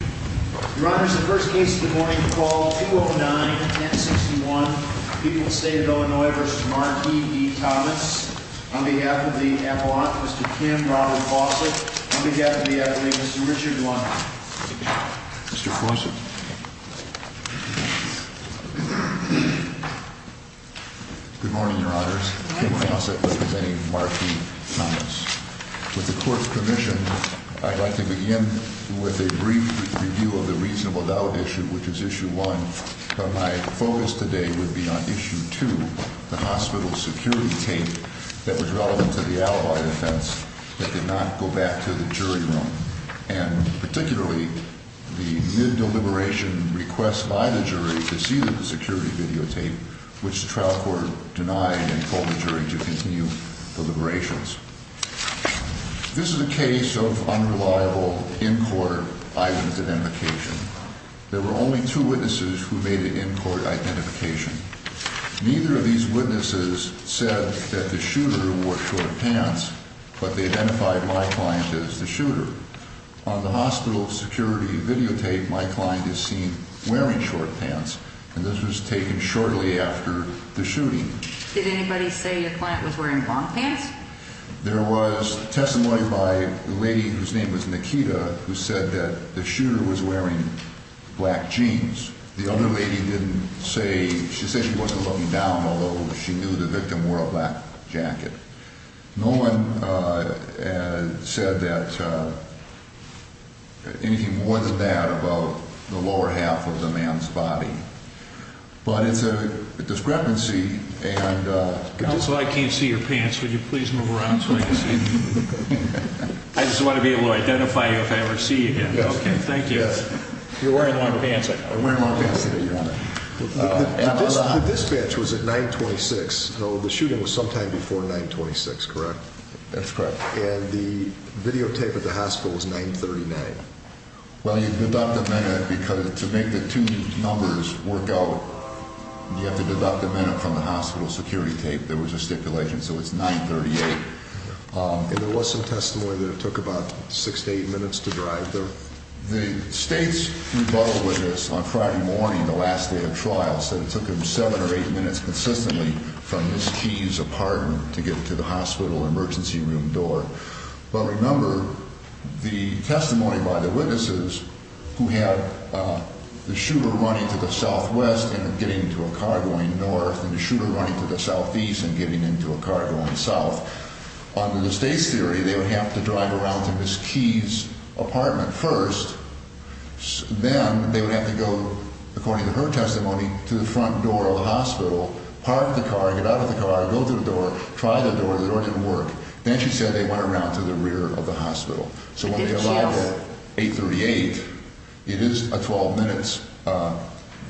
Your Honors, the first case of the morning, call 209-1061, People's State of Illinois v. Markey v. Thomas, on behalf of the Avalanche, Mr. Kim Robert Fawcett, on behalf of the Avalanche, Mr. Richard Lund. Mr. Fawcett. Good morning, Your Honors. Kim Fawcett representing Markey Thomas. With the Court's permission, I'd like to begin with a brief review of the reasonable doubt issue, which is Issue 1, but my focus today would be on Issue 2, the hospital security tape that was relevant to the alibi offense that did not go back to the jury room. And particularly, the mid-deliberation request by the jury to see the security videotape, which the trial court denied and called the jury to continue deliberations. This is a case of unreliable in-court eyewitness identification. There were only two witnesses who made an in-court identification. Neither of these witnesses said that the shooter wore short pants, but they identified my client as the shooter. On the hospital security videotape, my client is seen wearing short pants, and this was taken shortly after the shooting. Did anybody say your client was wearing long pants? There was testimony by a lady whose name was Nikita who said that the shooter was wearing black jeans. The other lady didn't say – she said she wasn't looking down, although she knew the victim wore a black jacket. No one said that – anything more than that about the lower half of the man's body. But it's a discrepancy, and – Counsel, I can't see your pants. Would you please move around so I can see them? I just want to be able to identify you if I ever see you again. Yes. Okay, thank you. You're wearing long pants. I'm wearing long pants today, Your Honor. The dispatch was at 926, so the shooting was sometime before 926, correct? That's correct. And the videotape at the hospital was 939. Well, you deduct a minute because to make the two numbers work out, you have to deduct a minute from the hospital security tape. There was a stipulation, so it's 938. And there was some testimony that it took about six to eight minutes to drive there. The State's rebuttal witness on Friday morning, the last day of trial, said it took him seven or eight minutes consistently from Ms. Key's apartment to get to the hospital emergency room door. But remember, the testimony by the witnesses who had the shooter running to the southwest and getting into a car going north and the shooter running to the southeast and getting into a car going south, under the State's theory, they would have to drive around to Ms. Key's apartment first. Then they would have to go, according to her testimony, to the front door of the hospital, park the car, get out of the car, go through the door, try the door. The door didn't work. Then she said they went around to the rear of the hospital. So when they arrive at 838, it is 12 minutes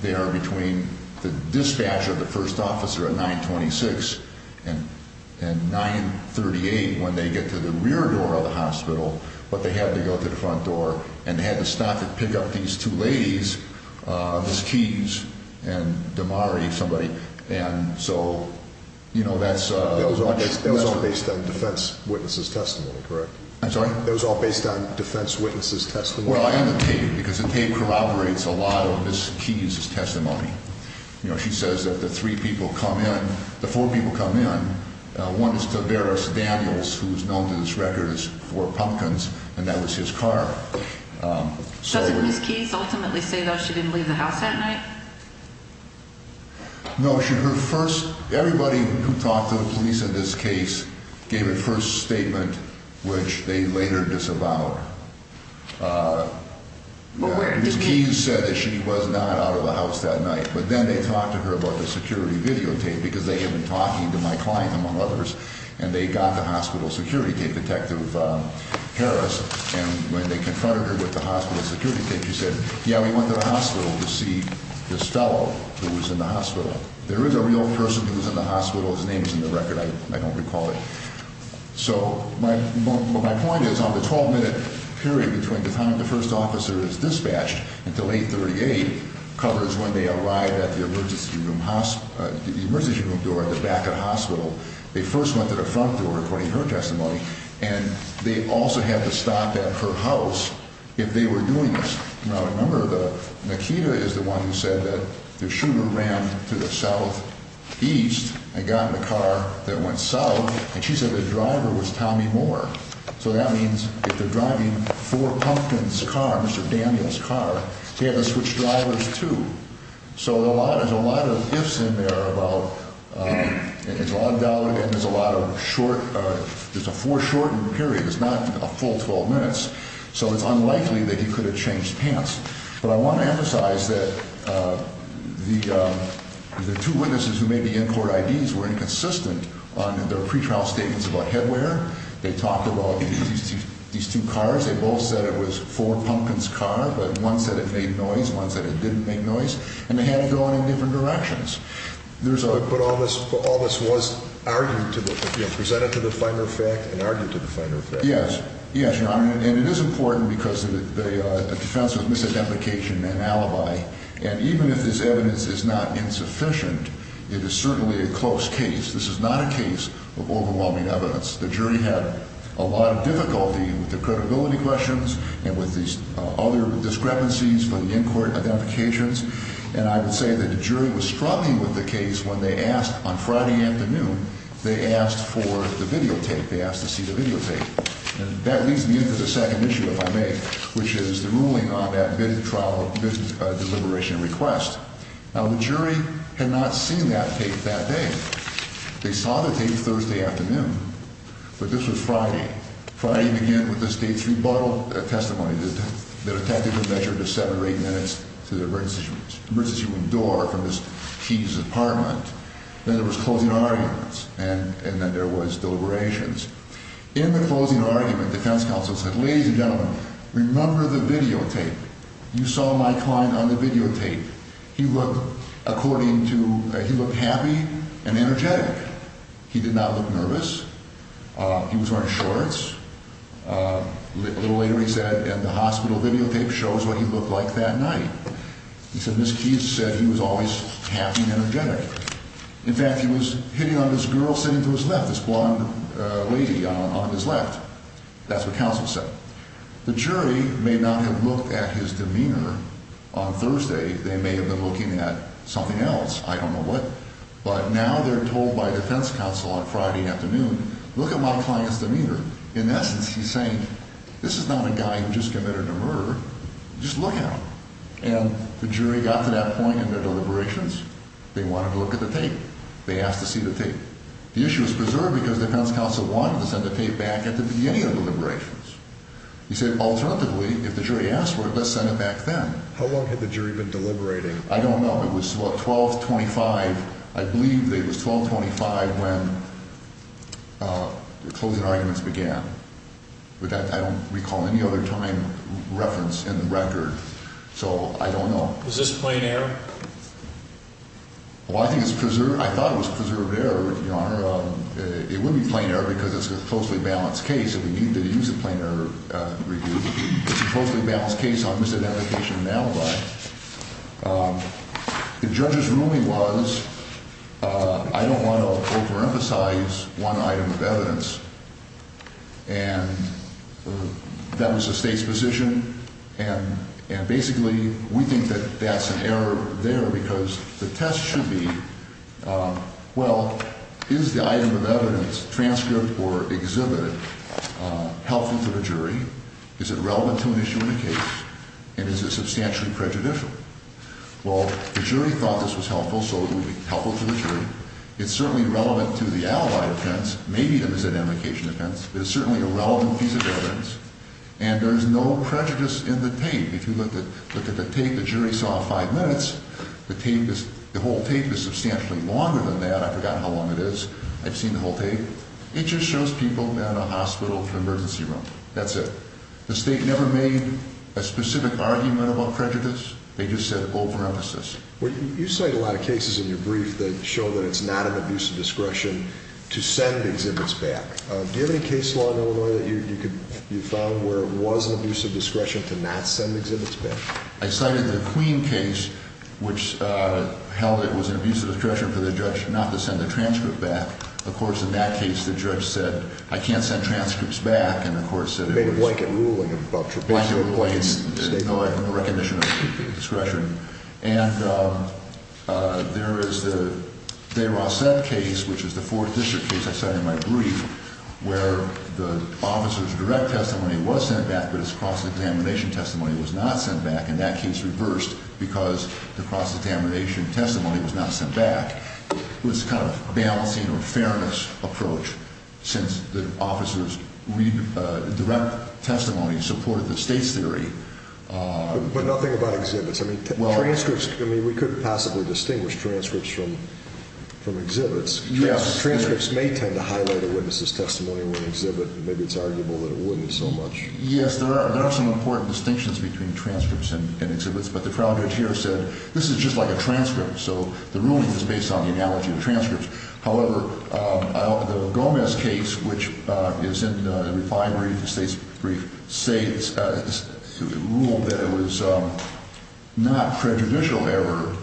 there between the dispatch of the first officer at 926 and 938 when they get to the rear door of the hospital. But they had to go to the front door, and they had to stop and pick up these two ladies, Ms. Key's and Damari, somebody. It was all based on defense witnesses' testimony, correct? I'm sorry? It was all based on defense witnesses' testimony? Well, I have a tape, because the tape corroborates a lot of Ms. Key's testimony. She says that the three people come in, the four people come in. One is Tavares Daniels, who is known to this record as Four Pumpkins, and that was his car. Doesn't Ms. Key ultimately say, though, she didn't leave the house that night? No. Her first – everybody who talked to the police in this case gave a first statement, which they later disavowed. Ms. Key said that she was not out of the house that night. But then they talked to her about the security videotape, because they had been talking to my client, among others, and they got the hospital security tape, Detective Harris. And when they confronted her with the hospital security tape, she said, yeah, we went to the hospital to see this fellow who was in the hospital. There is a real person who was in the hospital. His name is in the record. I don't recall it. So what my point is, on the 12-minute period between the time the first officer is dispatched until 8.38, covers when they arrive at the emergency room door at the back of the hospital. They first went to the front door, according to her testimony, and they also had to stop at her house if they were doing this. Now, remember, Nikita is the one who said that the shooter ran to the southeast and got in the car that went south, and she said the driver was Tommy Moore. So that means if they're driving for Pumpkin's car, Mr. Daniel's car, they have to switch drivers, too. So there's a lot of ifs in there about – there's a lot of doubt, and there's a lot of short – there's a foreshortened period. It's not a full 12 minutes, so it's unlikely that he could have changed pants. But I want to emphasize that the two witnesses who made the in-court IDs were inconsistent on their pretrial statements about headwear. They talked about these two cars. They both said it was for Pumpkin's car, but one said it made noise, one said it didn't make noise. And they had it going in different directions. There's a – But all this was argued to the – presented to the finer fact and argued to the finer fact. Yes. Yes, Your Honor, and it is important because of the defense of misidentification and alibi. And even if this evidence is not insufficient, it is certainly a close case. This is not a case of overwhelming evidence. The jury had a lot of difficulty with the credibility questions and with these other discrepancies for the in-court identifications. And I would say that the jury was struggling with the case when they asked on Friday afternoon, they asked for the videotape. They asked to see the videotape. And that leads me into the second issue, if I may, which is the ruling on that bid trial – bid deliberation request. Now, the jury had not seen that tape that day. They saw the tape Thursday afternoon, but this was Friday. Friday began with the state's rebuttal testimony that attempted to measure the seven or eight minutes to the emergency room door from the Chief's apartment. Then there was closing arguments, and then there was deliberations. In the closing argument, defense counsel said, ladies and gentlemen, remember the videotape. You saw my client on the videotape. He looked according to – he looked happy and energetic. He did not look nervous. He was wearing shorts. A little later he said, and the hospital videotape shows what he looked like that night. He said Ms. Keyes said he was always happy and energetic. In fact, he was hitting on this girl sitting to his left, this blonde lady on his left. That's what counsel said. The jury may not have looked at his demeanor on Thursday. They may have been looking at something else. I don't know what. But now they're told by defense counsel on Friday afternoon, look at my client's demeanor. In essence, he's saying, this is not a guy who just committed a murder. Just look at him. And the jury got to that point in their deliberations. They wanted to look at the tape. They asked to see the tape. The issue was preserved because defense counsel wanted to send the tape back at the beginning of deliberations. He said, alternatively, if the jury asked for it, let's send it back then. How long had the jury been deliberating? I don't know. It was, what, 12, 25. I believe it was 12, 25 when the closing arguments began. But I don't recall any other time reference in the record. So I don't know. Was this plain error? Well, I think it's preserved. I thought it was preserved error, Your Honor. It wouldn't be plain error because it's a closely balanced case, and we need to use a plain error review. It's a closely balanced case on misidentification and alibi. The judge's ruling was, I don't want to overemphasize one item of evidence. And that was the state's position. And basically, we think that that's an error there because the test should be, well, is the item of evidence, transcript or exhibit, helpful to the jury? Is it relevant to an issue in the case? And is it substantially prejudicial? Well, the jury thought this was helpful, so it would be helpful to the jury. It's certainly relevant to the alibi offense, maybe the misidentification offense. But it's certainly a relevant piece of evidence. And there's no prejudice in the tape. If you look at the tape the jury saw five minutes, the tape is, the whole tape is substantially longer than that. I forgot how long it is. I've seen the whole tape. It just shows people in a hospital emergency room. That's it. The state never made a specific argument about prejudice. They just said overemphasis. You cite a lot of cases in your brief that show that it's not an abuse of discretion to send exhibits back. Do you have any case law in Illinois that you found where it was an abuse of discretion to not send exhibits back? I cited the Queen case, which held it was an abuse of discretion for the judge not to send the transcript back. Of course, in that case, the judge said, I can't send transcripts back. And the court said it was a blanket ruling about trapezoid. Blanket ruling. No recognition of discretion. And there is the De Rossette case, which is the fourth district case I cited in my brief, where the officer's direct testimony was sent back, but his cross-examination testimony was not sent back. And that case reversed because the cross-examination testimony was not sent back. It was a kind of balancing or fairness approach since the officer's direct testimony supported the state's theory. But nothing about exhibits. I mean, transcripts, I mean, we couldn't possibly distinguish transcripts from exhibits. Yes. Transcripts may tend to highlight a witness's testimony or an exhibit. Maybe it's arguable that it wouldn't so much. Yes, there are. There are some important distinctions between transcripts and exhibits. But the crowd here said this is just like a transcript. So the ruling is based on the analogy of transcripts. However, the Gomez case, which is in the refinery, the state's brief, ruled that it was not prejudicial error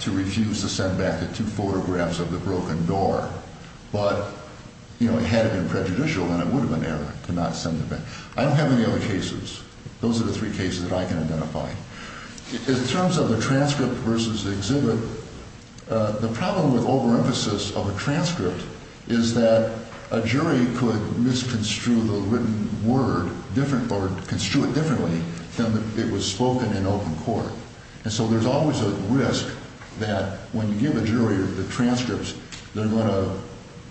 to refuse to send back the two photographs of the broken door. But, you know, had it been prejudicial, then it would have been error to not send them back. I don't have any other cases. Those are the three cases that I can identify. In terms of the transcript versus the exhibit, the problem with overemphasis of a transcript is that a jury could misconstrue the written word or construe it differently than it was spoken in open court. And so there's always a risk that when you give a jury the transcripts, they're going to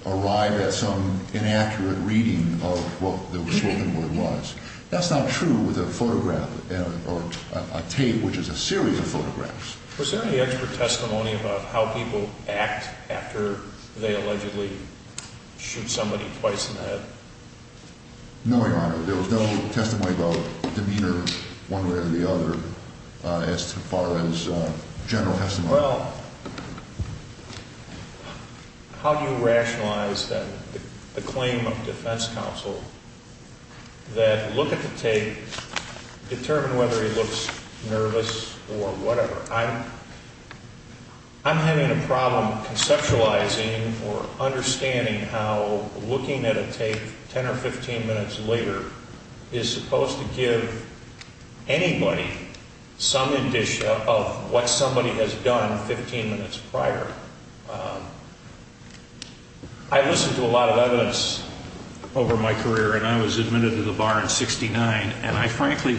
arrive at some inaccurate reading of what the spoken word was. That's not true with a photograph or a tape, which is a series of photographs. Was there any expert testimony about how people act after they allegedly shoot somebody twice in the head? No, Your Honor. There was no testimony about demeanor one way or the other as far as general testimony. Well, how do you rationalize the claim of defense counsel that look at the tape, determine whether he looks nervous or whatever? I'm having a problem conceptualizing or understanding how looking at a tape 10 or 15 minutes later is supposed to give anybody some indication of what somebody has done 15 minutes prior. I listened to a lot of evidence over my career, and I was admitted to the bar in 69. And I frankly,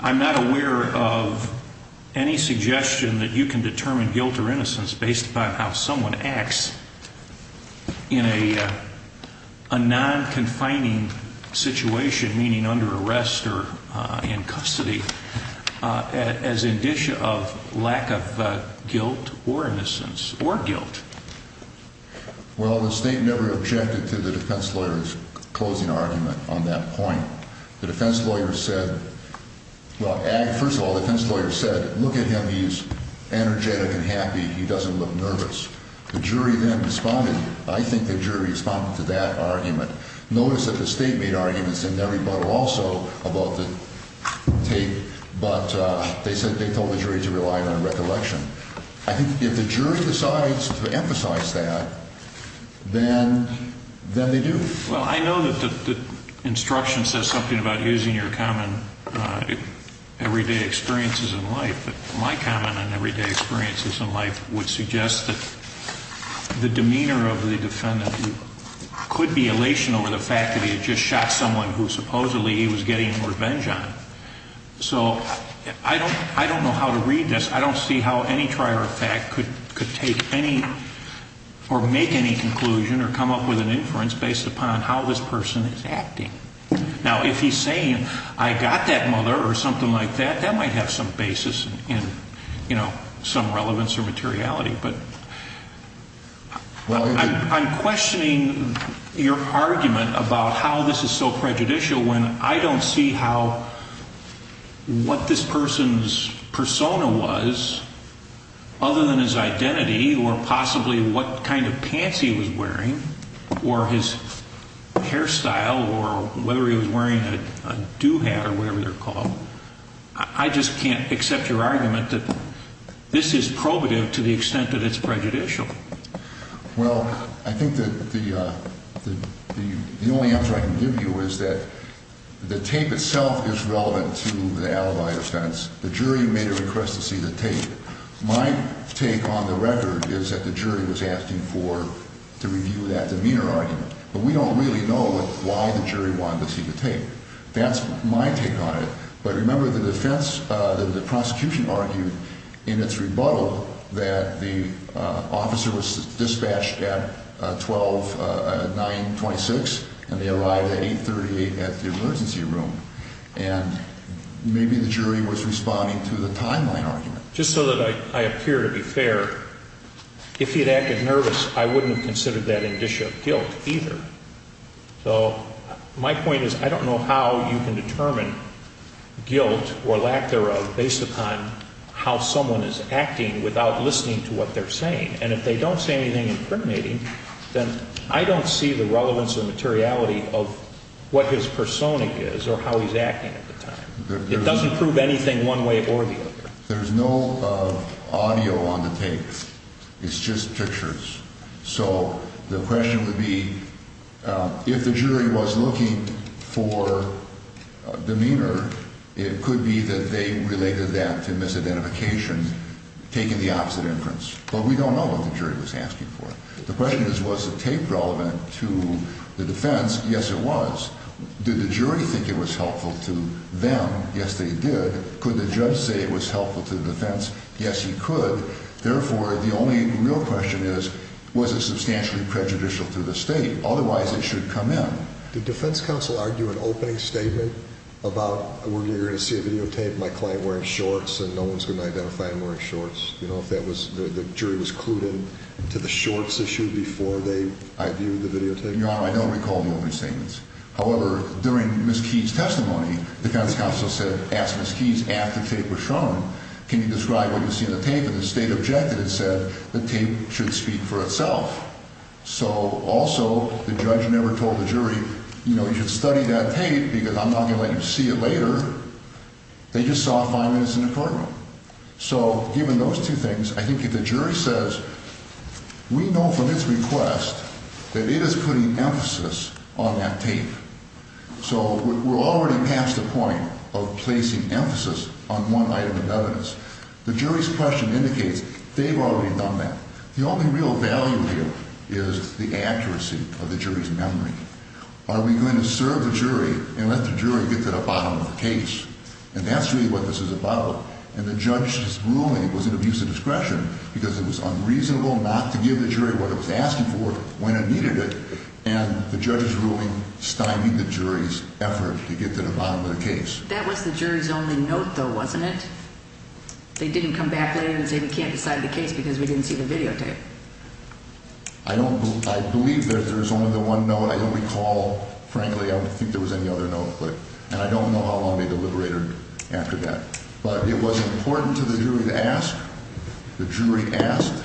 I'm not aware of any suggestion that you can determine guilt or innocence based upon how someone acts in a non-confining situation, meaning under arrest or in custody, as indicia of lack of guilt or innocence or guilt. Well, the state never objected to the defense lawyer's closing argument on that point. The defense lawyer said, well, first of all, the defense lawyer said, look at him, he's energetic and happy, he doesn't look nervous. The jury then responded. I think the jury responded to that argument. Notice that the state made arguments in their rebuttal also about the tape, but they said they told the jury to rely on recollection. I think if the jury decides to emphasize that, then they do. Well, I know that the instruction says something about using your common everyday experiences in life, but my comment on everyday experiences in life would suggest that the demeanor of the defendant could be elation over the fact that he had just shot someone who supposedly he was getting revenge on. So I don't know how to read this. I don't see how any trier of fact could take any or make any conclusion or come up with an inference based upon how this person is acting. Now, if he's saying I got that mother or something like that, that might have some basis in, you know, some relevance or materiality. But I'm questioning your argument about how this is so prejudicial when I don't see how what this person's persona was other than his identity or possibly what kind of pants he was wearing or his hairstyle or whether he was wearing a do-hat or whatever they're called. I just can't accept your argument that this is probative to the extent that it's prejudicial. Well, I think that the only answer I can give you is that the tape itself is relevant to the alibi defense. The jury made a request to see the tape. My take on the record is that the jury was asking to review that demeanor argument. But we don't really know why the jury wanted to see the tape. That's my take on it. But remember the defense, the prosecution argued in its rebuttal that the officer was dispatched at 12, 9, 26, and they arrived at 8, 38 at the emergency room. And maybe the jury was responding to the timeline argument. Just so that I appear to be fair, if he had acted nervous, I wouldn't have considered that indicia of guilt either. So my point is I don't know how you can determine guilt or lack thereof based upon how someone is acting without listening to what they're saying. And if they don't say anything incriminating, then I don't see the relevance or materiality of what his persona is or how he's acting at the time. It doesn't prove anything one way or the other. There's no audio on the tape. It's just pictures. So the question would be if the jury was looking for demeanor, it could be that they related that to misidentification, taking the opposite inference. But we don't know what the jury was asking for. The question is was the tape relevant to the defense? Yes, it was. Did the jury think it was helpful to them? Yes, they did. Could the judge say it was helpful to the defense? Yes, he could. Therefore, the only real question is was it substantially prejudicial to the state? Otherwise, it should come in. Did defense counsel argue an opening statement about, we're going to see a videotape of my client wearing shorts and no one's going to identify him wearing shorts? You know, if the jury was clued in to the shorts issue before they viewed the videotape? Your Honor, I don't recall the opening statements. However, during Ms. Keyes' testimony, defense counsel asked Ms. Keyes after the tape was shown, can you describe what you see in the tape? And the state objected and said the tape should speak for itself. So also, the judge never told the jury, you know, you should study that tape because I'm not going to let you see it later. They just saw five minutes in the courtroom. So given those two things, I think if the jury says, we know from its request that it is putting emphasis on that tape. So we're already past the point of placing emphasis on one item of evidence. The jury's question indicates they've already done that. The only real value here is the accuracy of the jury's memory. Are we going to serve the jury and let the jury get to the bottom of the case? And that's really what this is about. And the judge's ruling was an abuse of discretion because it was unreasonable not to give the jury what it was asking for when it needed it. And the judge's ruling stymied the jury's effort to get to the bottom of the case. That was the jury's only note, though, wasn't it? They didn't come back later and say we can't decide the case because we didn't see the videotape. I believe there's only the one note. I don't recall, frankly, I don't think there was any other note. And I don't know how long they deliberated after that. But it was important to the jury to ask. The jury asked.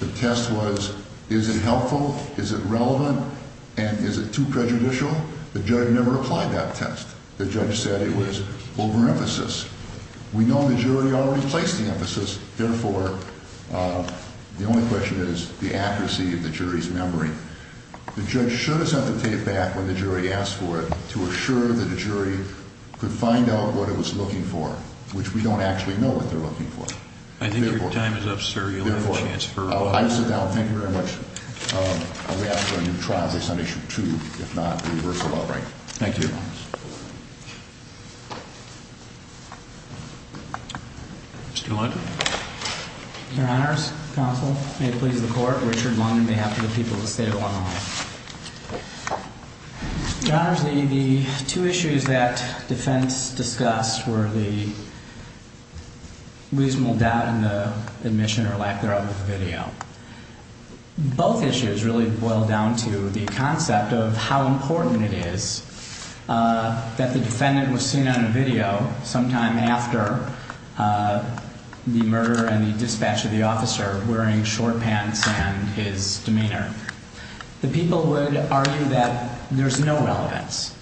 The test was is it helpful, is it relevant, and is it too prejudicial? The judge never applied that test. The judge said it was overemphasis. We know the jury already placed the emphasis. Therefore, the only question is the accuracy of the jury's memory. The judge should have sent the tape back when the jury asked for it to assure that the jury could find out what it was looking for, which we don't actually know what they're looking for. I think your time is up, sir. You have a chance for a vote. I sit down. Thank you very much. I'll be asking for a new trial case on Issue 2, if not the reversal of the right. Thank you. Mr. London. Your Honors, Counsel, may it please the Court, Richard London, on behalf of the people of the state of Illinois. Your Honors, the two issues that defense discussed were the reasonable doubt in the admission or lack thereof of the video. Both issues really boil down to the concept of how important it is that the defendant was seen on a video sometime after the murder and the dispatch of the officer wearing short pants and his demeanor. The people would argue that there's no relevance.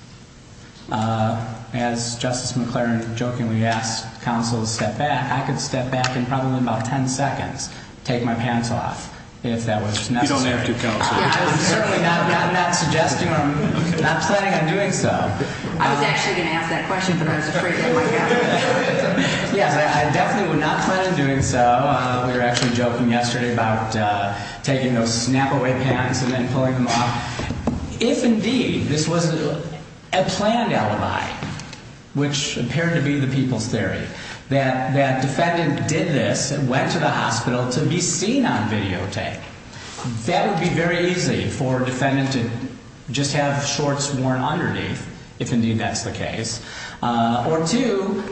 As Justice McClaren jokingly asked counsel to step back, I could step back in probably about 10 seconds, take my pants off, if that was necessary. You don't have to, Counsel. I've certainly not gotten that suggestion, or I'm not planning on doing so. I was actually going to ask that question, but I was afraid it might get out of hand. Yes, I definitely would not plan on doing so. We were actually joking yesterday about taking those snap-away pants and then pulling them off. If, indeed, this was a planned alibi, which appeared to be the people's theory, that the defendant did this and went to the hospital to be seen on videotape, that would be very easy for a defendant to just have shorts worn underneath, if, indeed, that's the case. Or two,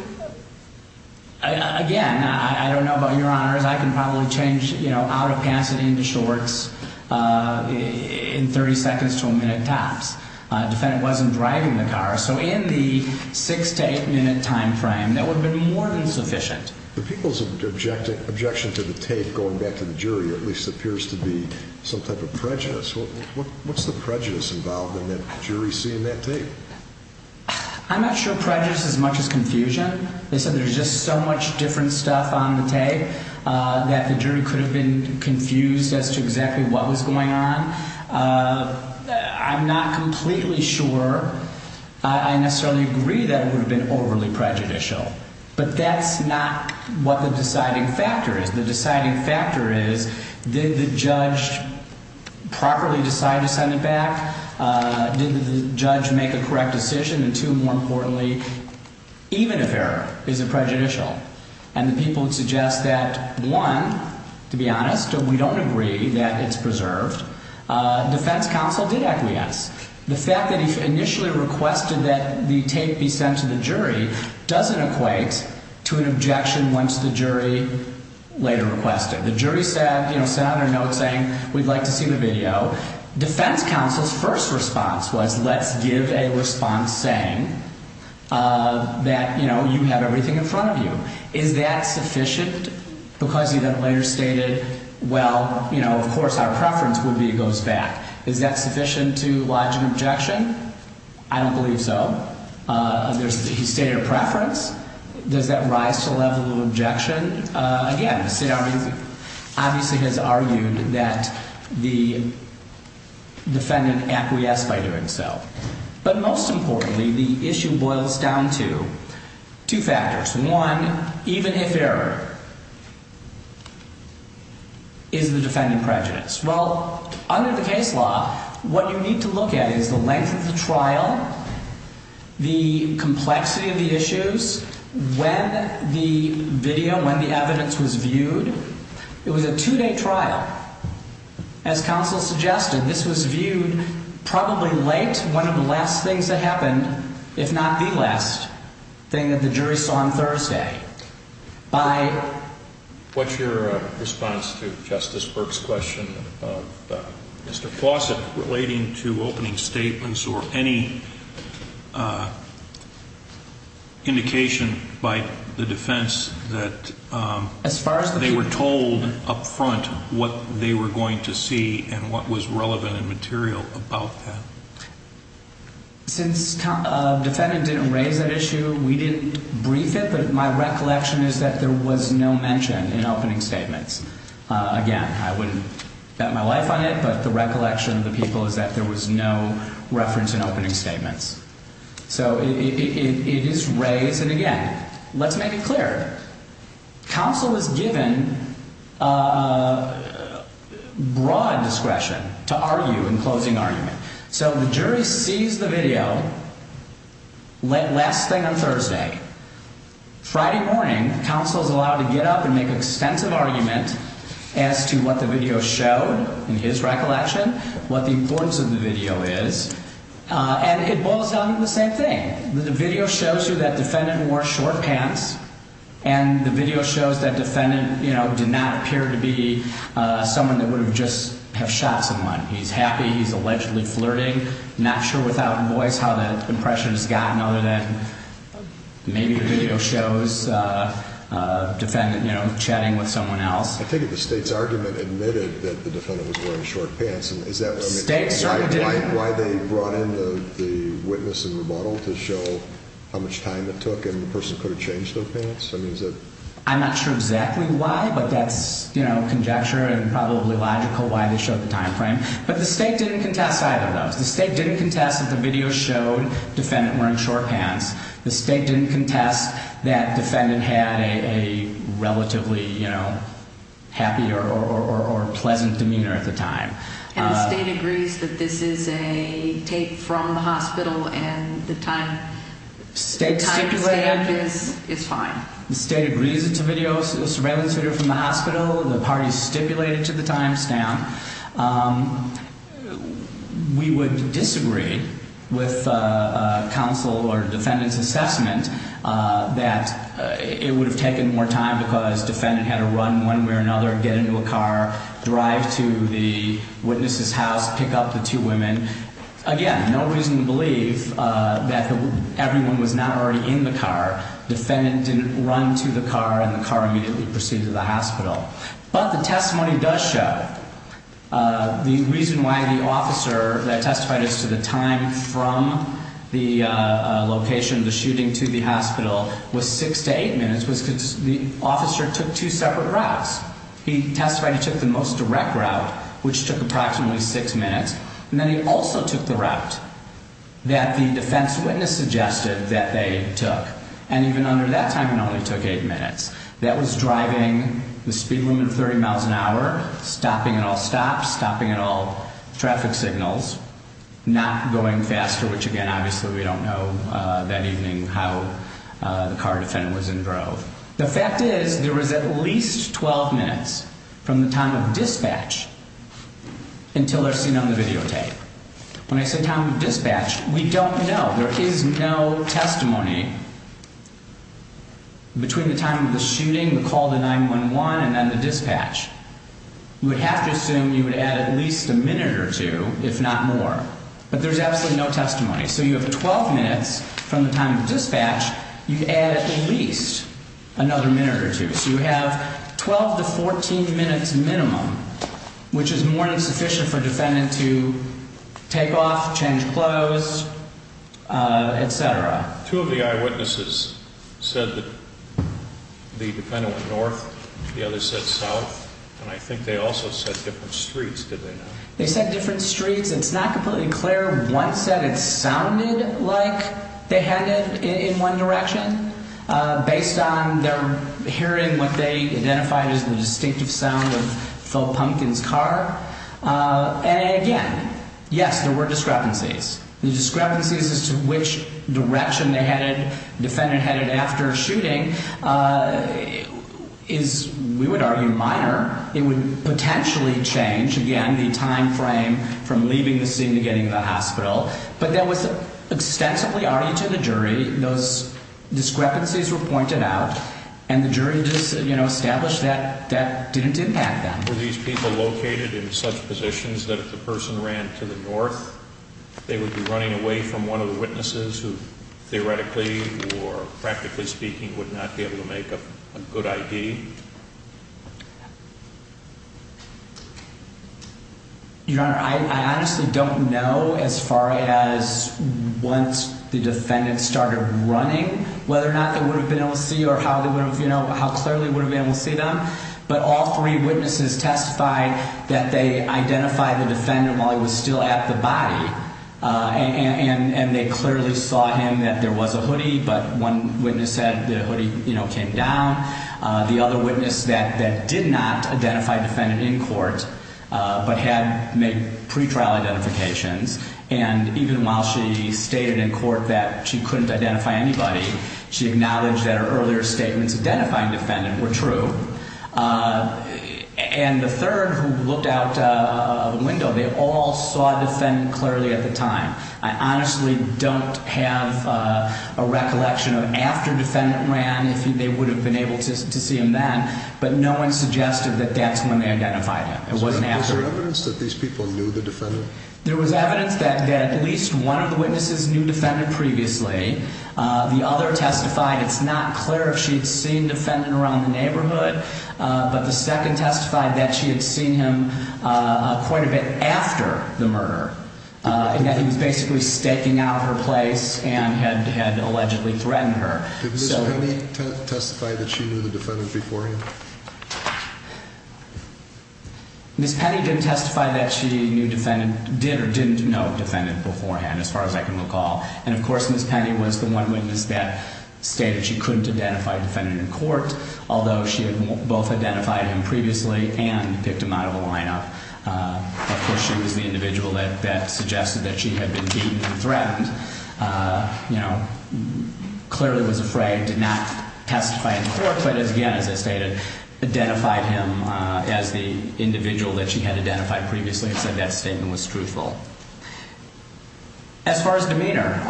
again, I don't know about your honors. I can probably change out of pants and into shorts in 30 seconds to a minute tops. The defendant wasn't driving the car. So in the six to eight minute time frame, that would have been more than sufficient. The people's objection to the tape going back to the jury at least appears to be some type of prejudice. What's the prejudice involved in the jury seeing that tape? I'm not sure prejudice as much as confusion. They said there's just so much different stuff on the tape that the jury could have been confused as to exactly what was going on. I'm not completely sure. I necessarily agree that it would have been overly prejudicial. But that's not what the deciding factor is. The deciding factor is did the judge properly decide to send it back? Did the judge make a correct decision? And two, more importantly, even if error, is it prejudicial? And the people would suggest that, one, to be honest, we don't agree that it's preserved. Defense counsel did acquiesce. The fact that he initially requested that the tape be sent to the jury doesn't equate to an objection once the jury later requested it. The jury said, you know, sent out a note saying we'd like to see the video. Defense counsel's first response was let's give a response saying that, you know, you have everything in front of you. Is that sufficient? Because he then later stated, well, you know, of course our preference would be it goes back. Is that sufficient to lodge an objection? I don't believe so. He stated a preference. Does that rise to a level of objection? Again, the state obviously has argued that the defendant acquiesced by doing so. But most importantly, the issue boils down to two factors. One, even if error, is the defendant prejudiced? Well, under the case law, what you need to look at is the length of the trial, the complexity of the issues, when the video, when the evidence was viewed. It was a two-day trial. As counsel suggested, this was viewed probably late, one of the last things that happened, if not the last thing that the jury saw on Thursday. What's your response to Justice Burke's question of Mr. Fawcett relating to opening statements or any indication by the defense that they were told up front what they were going to see and what was relevant and material about that? Since the defendant didn't raise that issue, we didn't brief it, but my recollection is that there was no mention in opening statements. Again, I wouldn't bet my life on it, but the recollection of the people is that there was no reference in opening statements. So it is raised, and again, let's make it clear. Counsel is given broad discretion to argue in closing argument. So the jury sees the video, last thing on Thursday. Friday morning, counsel is allowed to get up and make an extensive argument as to what the video showed, in his recollection, what the importance of the video is. And it boils down to the same thing. The video shows you that defendant wore short pants, and the video shows that defendant, you know, did not appear to be someone that would have just shot someone. He's happy. He's allegedly flirting. I'm not sure without voice how that impression has gotten other than maybe the video shows a defendant, you know, chatting with someone else. I take it the State's argument admitted that the defendant was wearing short pants. State certainly did. Is that why they brought in the witness in rebuttal to show how much time it took and the person could have changed their pants? I'm not sure exactly why, but that's, you know, conjecture and probably logical why they showed the time frame. But the State didn't contest either of those. The State didn't contest that the video showed defendant wearing short pants. The State didn't contest that defendant had a relatively, you know, happy or pleasant demeanor at the time. And the State agrees that this is a tape from the hospital and the time stamp is fine. The State agrees it's a surveillance video from the hospital. The parties stipulated to the time stamp. We would disagree with counsel or defendant's assessment that it would have taken more time because defendant had to run one way or another, get into a car, drive to the witness's house, pick up the two women. Again, no reason to believe that everyone was not already in the car. Defendant didn't run to the car and the car immediately proceeded to the hospital. But the testimony does show the reason why the officer that testified as to the time from the location of the shooting to the hospital was six to eight minutes was because the officer took two separate routes. He testified he took the most direct route, which took approximately six minutes. And then he also took the route that the defense witness suggested that they took. And even under that time, it only took eight minutes. That was driving the speed limit of 30 miles an hour, stopping at all stops, stopping at all traffic signals, not going faster, which, again, obviously we don't know that evening how the car defendant was in drove. The fact is there was at least 12 minutes from the time of dispatch until they're seen on the videotape. When I say time of dispatch, we don't know. There is no testimony between the time of the shooting, the call to 911, and then the dispatch. You would have to assume you would add at least a minute or two, if not more. But there's absolutely no testimony. So you have 12 minutes from the time of dispatch. You add at least another minute or two. So you have 12 to 14 minutes minimum, which is more than sufficient for a defendant to take off, change clothes, et cetera. Two of the eyewitnesses said that the defendant went north. The other said south. And I think they also said different streets, did they not? They said different streets. It's not completely clear. One said it sounded like they headed in one direction based on their hearing what they identified as the distinctive sound of Phil Pumpkin's car. And, again, yes, there were discrepancies. The discrepancies as to which direction the defendant headed after shooting is, we would argue, minor. It would potentially change, again, the time frame from leaving the scene to getting to the hospital. But that was extensively argued to the jury. Those discrepancies were pointed out. And the jury just, you know, established that that didn't impact them. Were these people located in such positions that if the person ran to the north, they would be running away from one of the witnesses who theoretically or practically speaking would not be able to make a good ID? Your Honor, I honestly don't know as far as once the defendant started running, whether or not they would have been able to see or how they would have, you know, how clearly they would have been able to see them. But all three witnesses testified that they identified the defendant while he was still at the body. And they clearly saw him, that there was a hoodie, but one witness said the hoodie, you know, came down. The other witness that did not identify defendant in court but had made pretrial identifications. And even while she stated in court that she couldn't identify anybody, she acknowledged that her earlier statements identifying defendant were true. And the third who looked out of the window, they all saw defendant clearly at the time. I honestly don't have a recollection of after defendant ran if they would have been able to see him then. But no one suggested that that's when they identified him. It wasn't after. Was there evidence that these people knew the defendant? There was evidence that at least one of the witnesses knew defendant previously. The other testified it's not clear if she had seen defendant around the neighborhood. But the second testified that she had seen him quite a bit after the murder. And that he was basically staking out her place and had allegedly threatened her. Did Ms. Penny testify that she knew the defendant beforehand? Ms. Penny didn't testify that she knew defendant, did or didn't know defendant beforehand as far as I can recall. And of course, Ms. Penny was the one witness that stated she couldn't identify defendant in court. Although she had both identified him previously and picked him out of the lineup. Of course, she was the individual that suggested that she had been beaten and threatened. You know, clearly was afraid to not testify in court. But again, as I stated, identified him as the individual that she had identified previously and said that statement was truthful. As far as demeanor,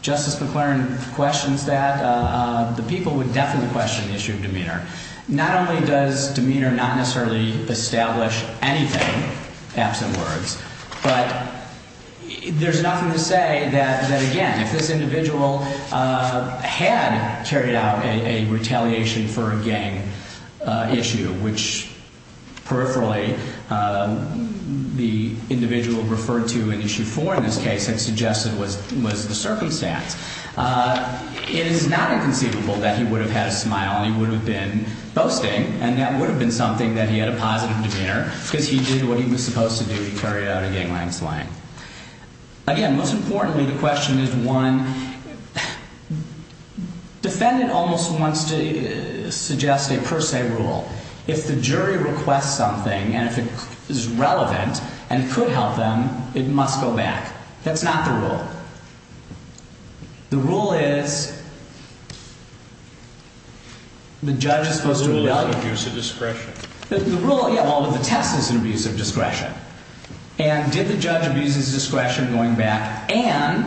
Justice McClaren questions that. The people would definitely question the issue of demeanor. Not only does demeanor not necessarily establish anything, absent words. But there's nothing to say that, again, if this individual had carried out a retaliation for a gang issue. Which peripherally, the individual referred to in issue four in this case had suggested was the circumstance. It is not inconceivable that he would have had a smile. He would have been boasting. And that would have been something that he had a positive demeanor. Because he did what he was supposed to do. He carried out a gangland slaying. Again, most importantly, the question is one. Defendant almost wants to suggest a per se rule. If the jury requests something and if it is relevant and could help them, it must go back. That's not the rule. The rule is. The judge is supposed to. Abuse of discretion. The rule of the test is an abuse of discretion. And did the judge abuse his discretion going back? And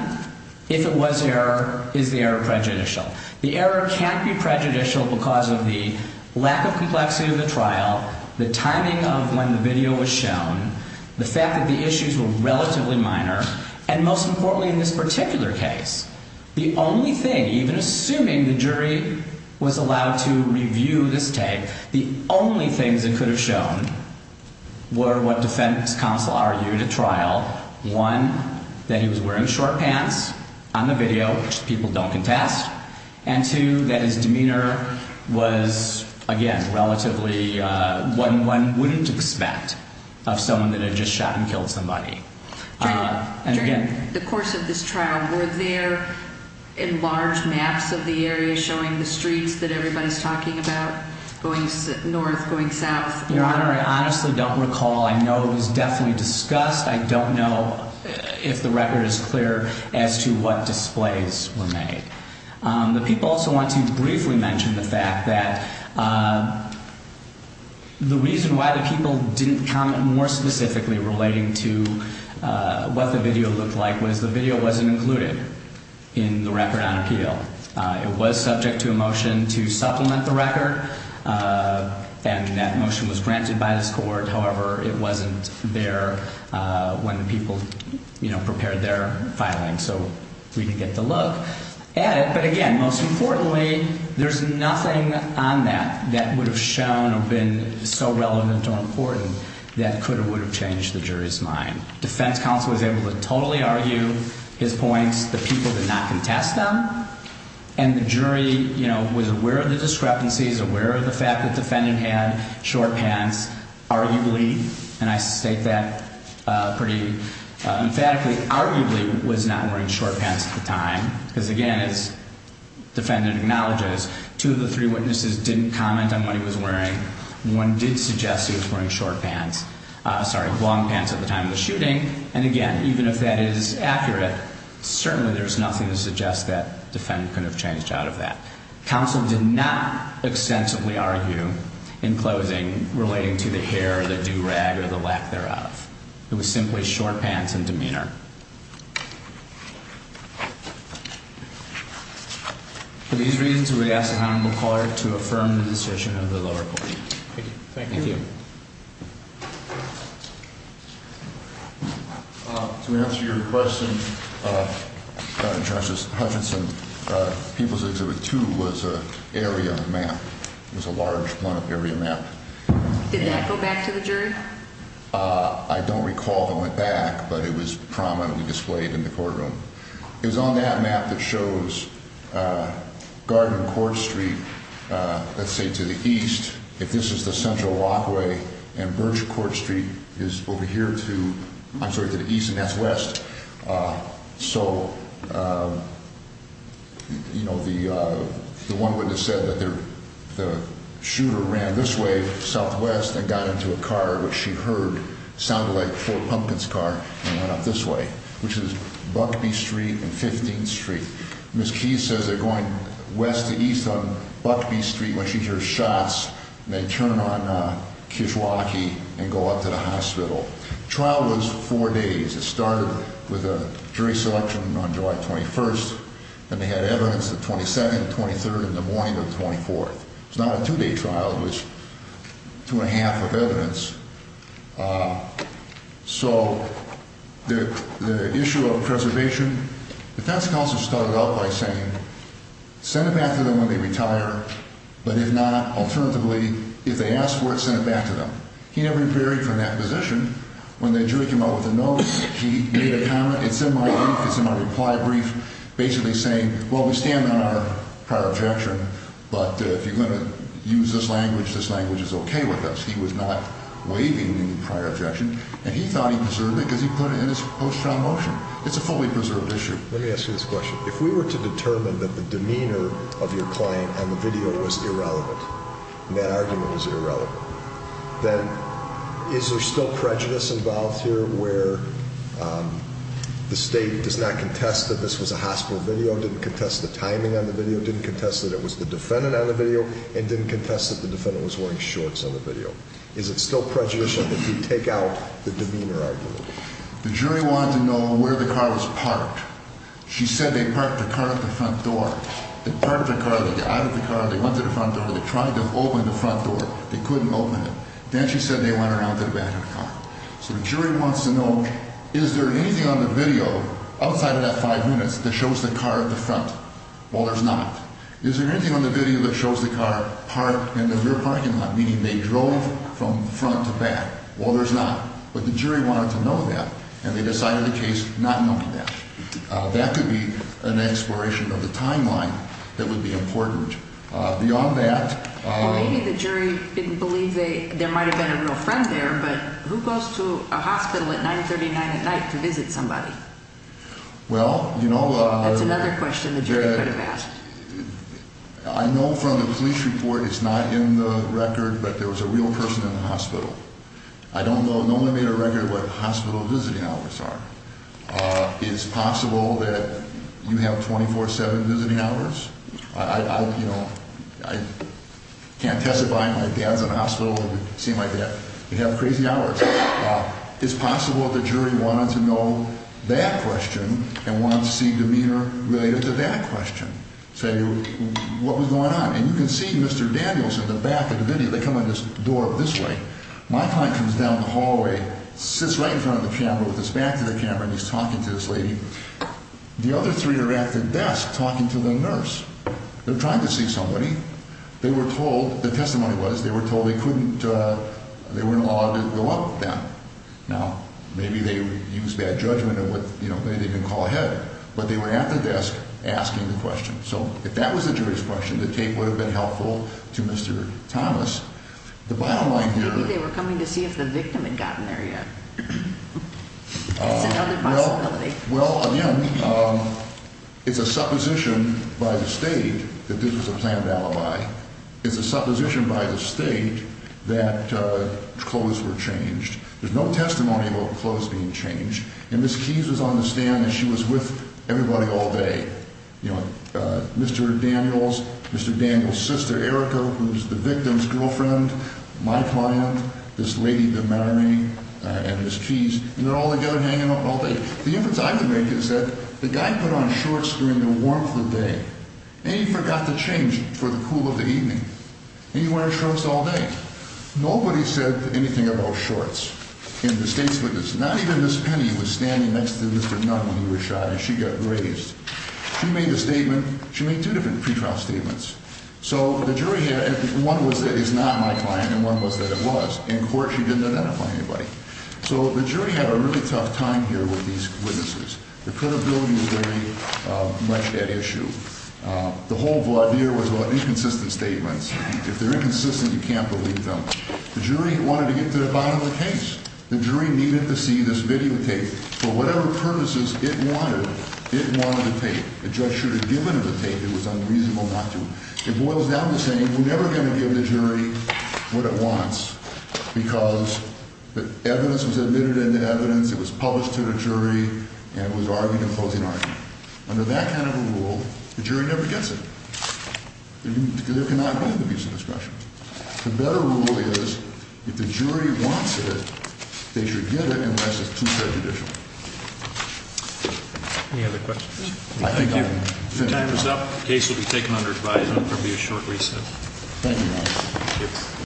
if it was error, is the error prejudicial? The error can't be prejudicial because of the lack of complexity of the trial. The timing of when the video was shown. The fact that the issues were relatively minor. And most importantly in this particular case. The only thing, even assuming the jury was allowed to review this tape. The only things that could have shown were what defense counsel argued at trial. One, that he was wearing short pants on the video, which people don't contest. And two, that his demeanor was, again, relatively. One wouldn't expect of someone that had just shot and killed somebody. During the course of this trial, were there enlarged maps of the area showing the streets that everybody is talking about? Going north, going south. Your Honor, I honestly don't recall. I know it was definitely discussed. I don't know if the record is clear as to what displays were made. The people also want to briefly mention the fact that the reason why the people didn't comment more specifically. Relating to what the video looked like was the video wasn't included in the record on appeal. It was subject to a motion to supplement the record. And that motion was granted by this court. However, it wasn't there when the people prepared their filing. So we can get the look at it. But again, most importantly, there's nothing on that that would have shown or been so relevant or important that could or would have changed the jury's mind. Defense counsel was able to totally argue his points. The people did not contest them. And the jury, you know, was aware of the discrepancies, aware of the fact that the defendant had short pants. Arguably, and I state that pretty emphatically, arguably was not wearing short pants at the time. Because again, as the defendant acknowledges, two of the three witnesses didn't comment on what he was wearing. One did suggest he was wearing short pants, sorry, long pants at the time of the shooting. And again, even if that is accurate, certainly there's nothing to suggest that defendant could have changed out of that. Counsel did not extensively argue in closing relating to the hair, the do-rag or the lack thereof. It was simply short pants and demeanor. For these reasons, we ask the Honorable Caller to affirm the decision of the lower court. Thank you. Thank you. To answer your question, Justice Hutchinson, People's Exhibit 2 was an area map. It was a large area map. Did that go back to the jury? I don't recall if it went back, but it was prominently displayed in the courtroom. It was on that map that shows Garden Court Street, let's say, to the east. If this is the central walkway and Birch Court Street is over here to, I'm sorry, to the east and that's west. So, you know, the one witness said that the shooter ran this way southwest and got into a car, which she heard sound like Fort Pumpkin's car, and went up this way, which is Buckby Street and 15th Street. Ms. Keyes says they're going west to east on Buckby Street when she hears shots and they turn on Kishwaukee and go up to the hospital. The trial was four days. It started with a jury selection on July 21st, and they had evidence the 22nd, 23rd, and the morning of the 24th. It was not a two-day trial. It was two and a half of evidence. So the issue of preservation, defense counsel started out by saying send it back to them when they retire, but if not, alternatively, if they ask for it, send it back to them. He never varied from that position. When the jury came out with a no, he made a comment. It's in my brief. It's in my reply brief, basically saying, well, we stand on our prior objection, but if you're going to use this language, this language is okay with us. He was not waiving the prior objection, and he thought he preserved it because he put it in his post-trial motion. It's a fully preserved issue. Let me ask you this question. If we were to determine that the demeanor of your client on the video was irrelevant, and that argument was irrelevant, then is there still prejudice involved here where the state does not contest that this was a hospital video, didn't contest the timing on the video, didn't contest that it was the defendant on the video, and didn't contest that the defendant was wearing shorts on the video? Is it still prejudice if we take out the demeanor argument? The jury wanted to know where the car was parked. She said they parked the car at the front door. They parked the car. They got out of the car. They went to the front door. They tried to open the front door. They couldn't open it. Then she said they went around to the back of the car. So the jury wants to know, is there anything on the video outside of that five minutes that shows the car at the front? Well, there's not. Is there anything on the video that shows the car parked in the rear parking lot, meaning they drove from front to back? Well, there's not. But the jury wanted to know that, and they decided the case not knowing that. That could be an exploration of the timeline that would be important. Beyond that— Well, maybe the jury didn't believe there might have been a real friend there, but who goes to a hospital at 939 at night to visit somebody? Well, you know— That's another question the jury could have asked. I know from the police report it's not in the record, but there was a real person in the hospital. I don't know. No one made a record of what hospital visiting hours are. Is it possible that you have 24-7 visiting hours? You know, I can't testify. My dad's in a hospital. It would seem like that. You have crazy hours. Is it possible the jury wanted to know that question and wanted to see demeanor related to that question? So what was going on? And you can see Mr. Daniels in the back of the video. They come on this door this way. My client comes down the hallway, sits right in front of the camera with his back to the camera, and he's talking to this lady. The other three are at the desk talking to the nurse. They're trying to see somebody. They were told—the testimony was they were told they couldn't—they weren't allowed to go up with them. Now, maybe they used bad judgment and maybe they didn't call ahead, but they were at the desk asking the question. So if that was the jury's question, the tape would have been helpful to Mr. Thomas. The bottom line here— Maybe they were coming to see if the victim had gotten there yet. That's another possibility. Well, again, it's a supposition by the state that this was a planned alibi. It's a supposition by the state that clothes were changed. There's no testimony about clothes being changed. And Ms. Keys was on the stand, and she was with everybody all day. You know, Mr. Daniels, Mr. Daniels' sister, Erica, who's the victim's girlfriend, my client, this lady, the marionette, and Ms. Keys. And they're all together hanging out all day. The inference I can make is that the guy put on shorts during the warmth of the day, and he forgot to change for the cool of the evening. And he wore shorts all day. Nobody said anything about shorts in the state's witness. Not even Ms. Penny was standing next to Mr. Nunn when he was shot, and she got grazed. She made a statement. She made two different pretrial statements. So the jury had—one was that it's not my client, and one was that it was. In court, she didn't identify anybody. So the jury had a really tough time here with these witnesses. The credibility was very much at issue. The whole idea was about inconsistent statements. If they're inconsistent, you can't believe them. The jury wanted to get to the bottom of the case. The jury needed to see this videotape. For whatever purposes it wanted, it wanted the tape. The judge should have given it the tape. It was unreasonable not to. It boils down to saying we're never going to give the jury what it wants because the evidence was admitted into evidence. It was published to the jury, and it was argued in closing argument. Under that kind of a rule, the jury never gets it. There cannot be an abuse of discretion. The better rule is if the jury wants it, they should get it unless it's too prejudicial. Any other questions? Thank you. Time is up. The case will be taken under advisement. There will be a short recess. Thank you.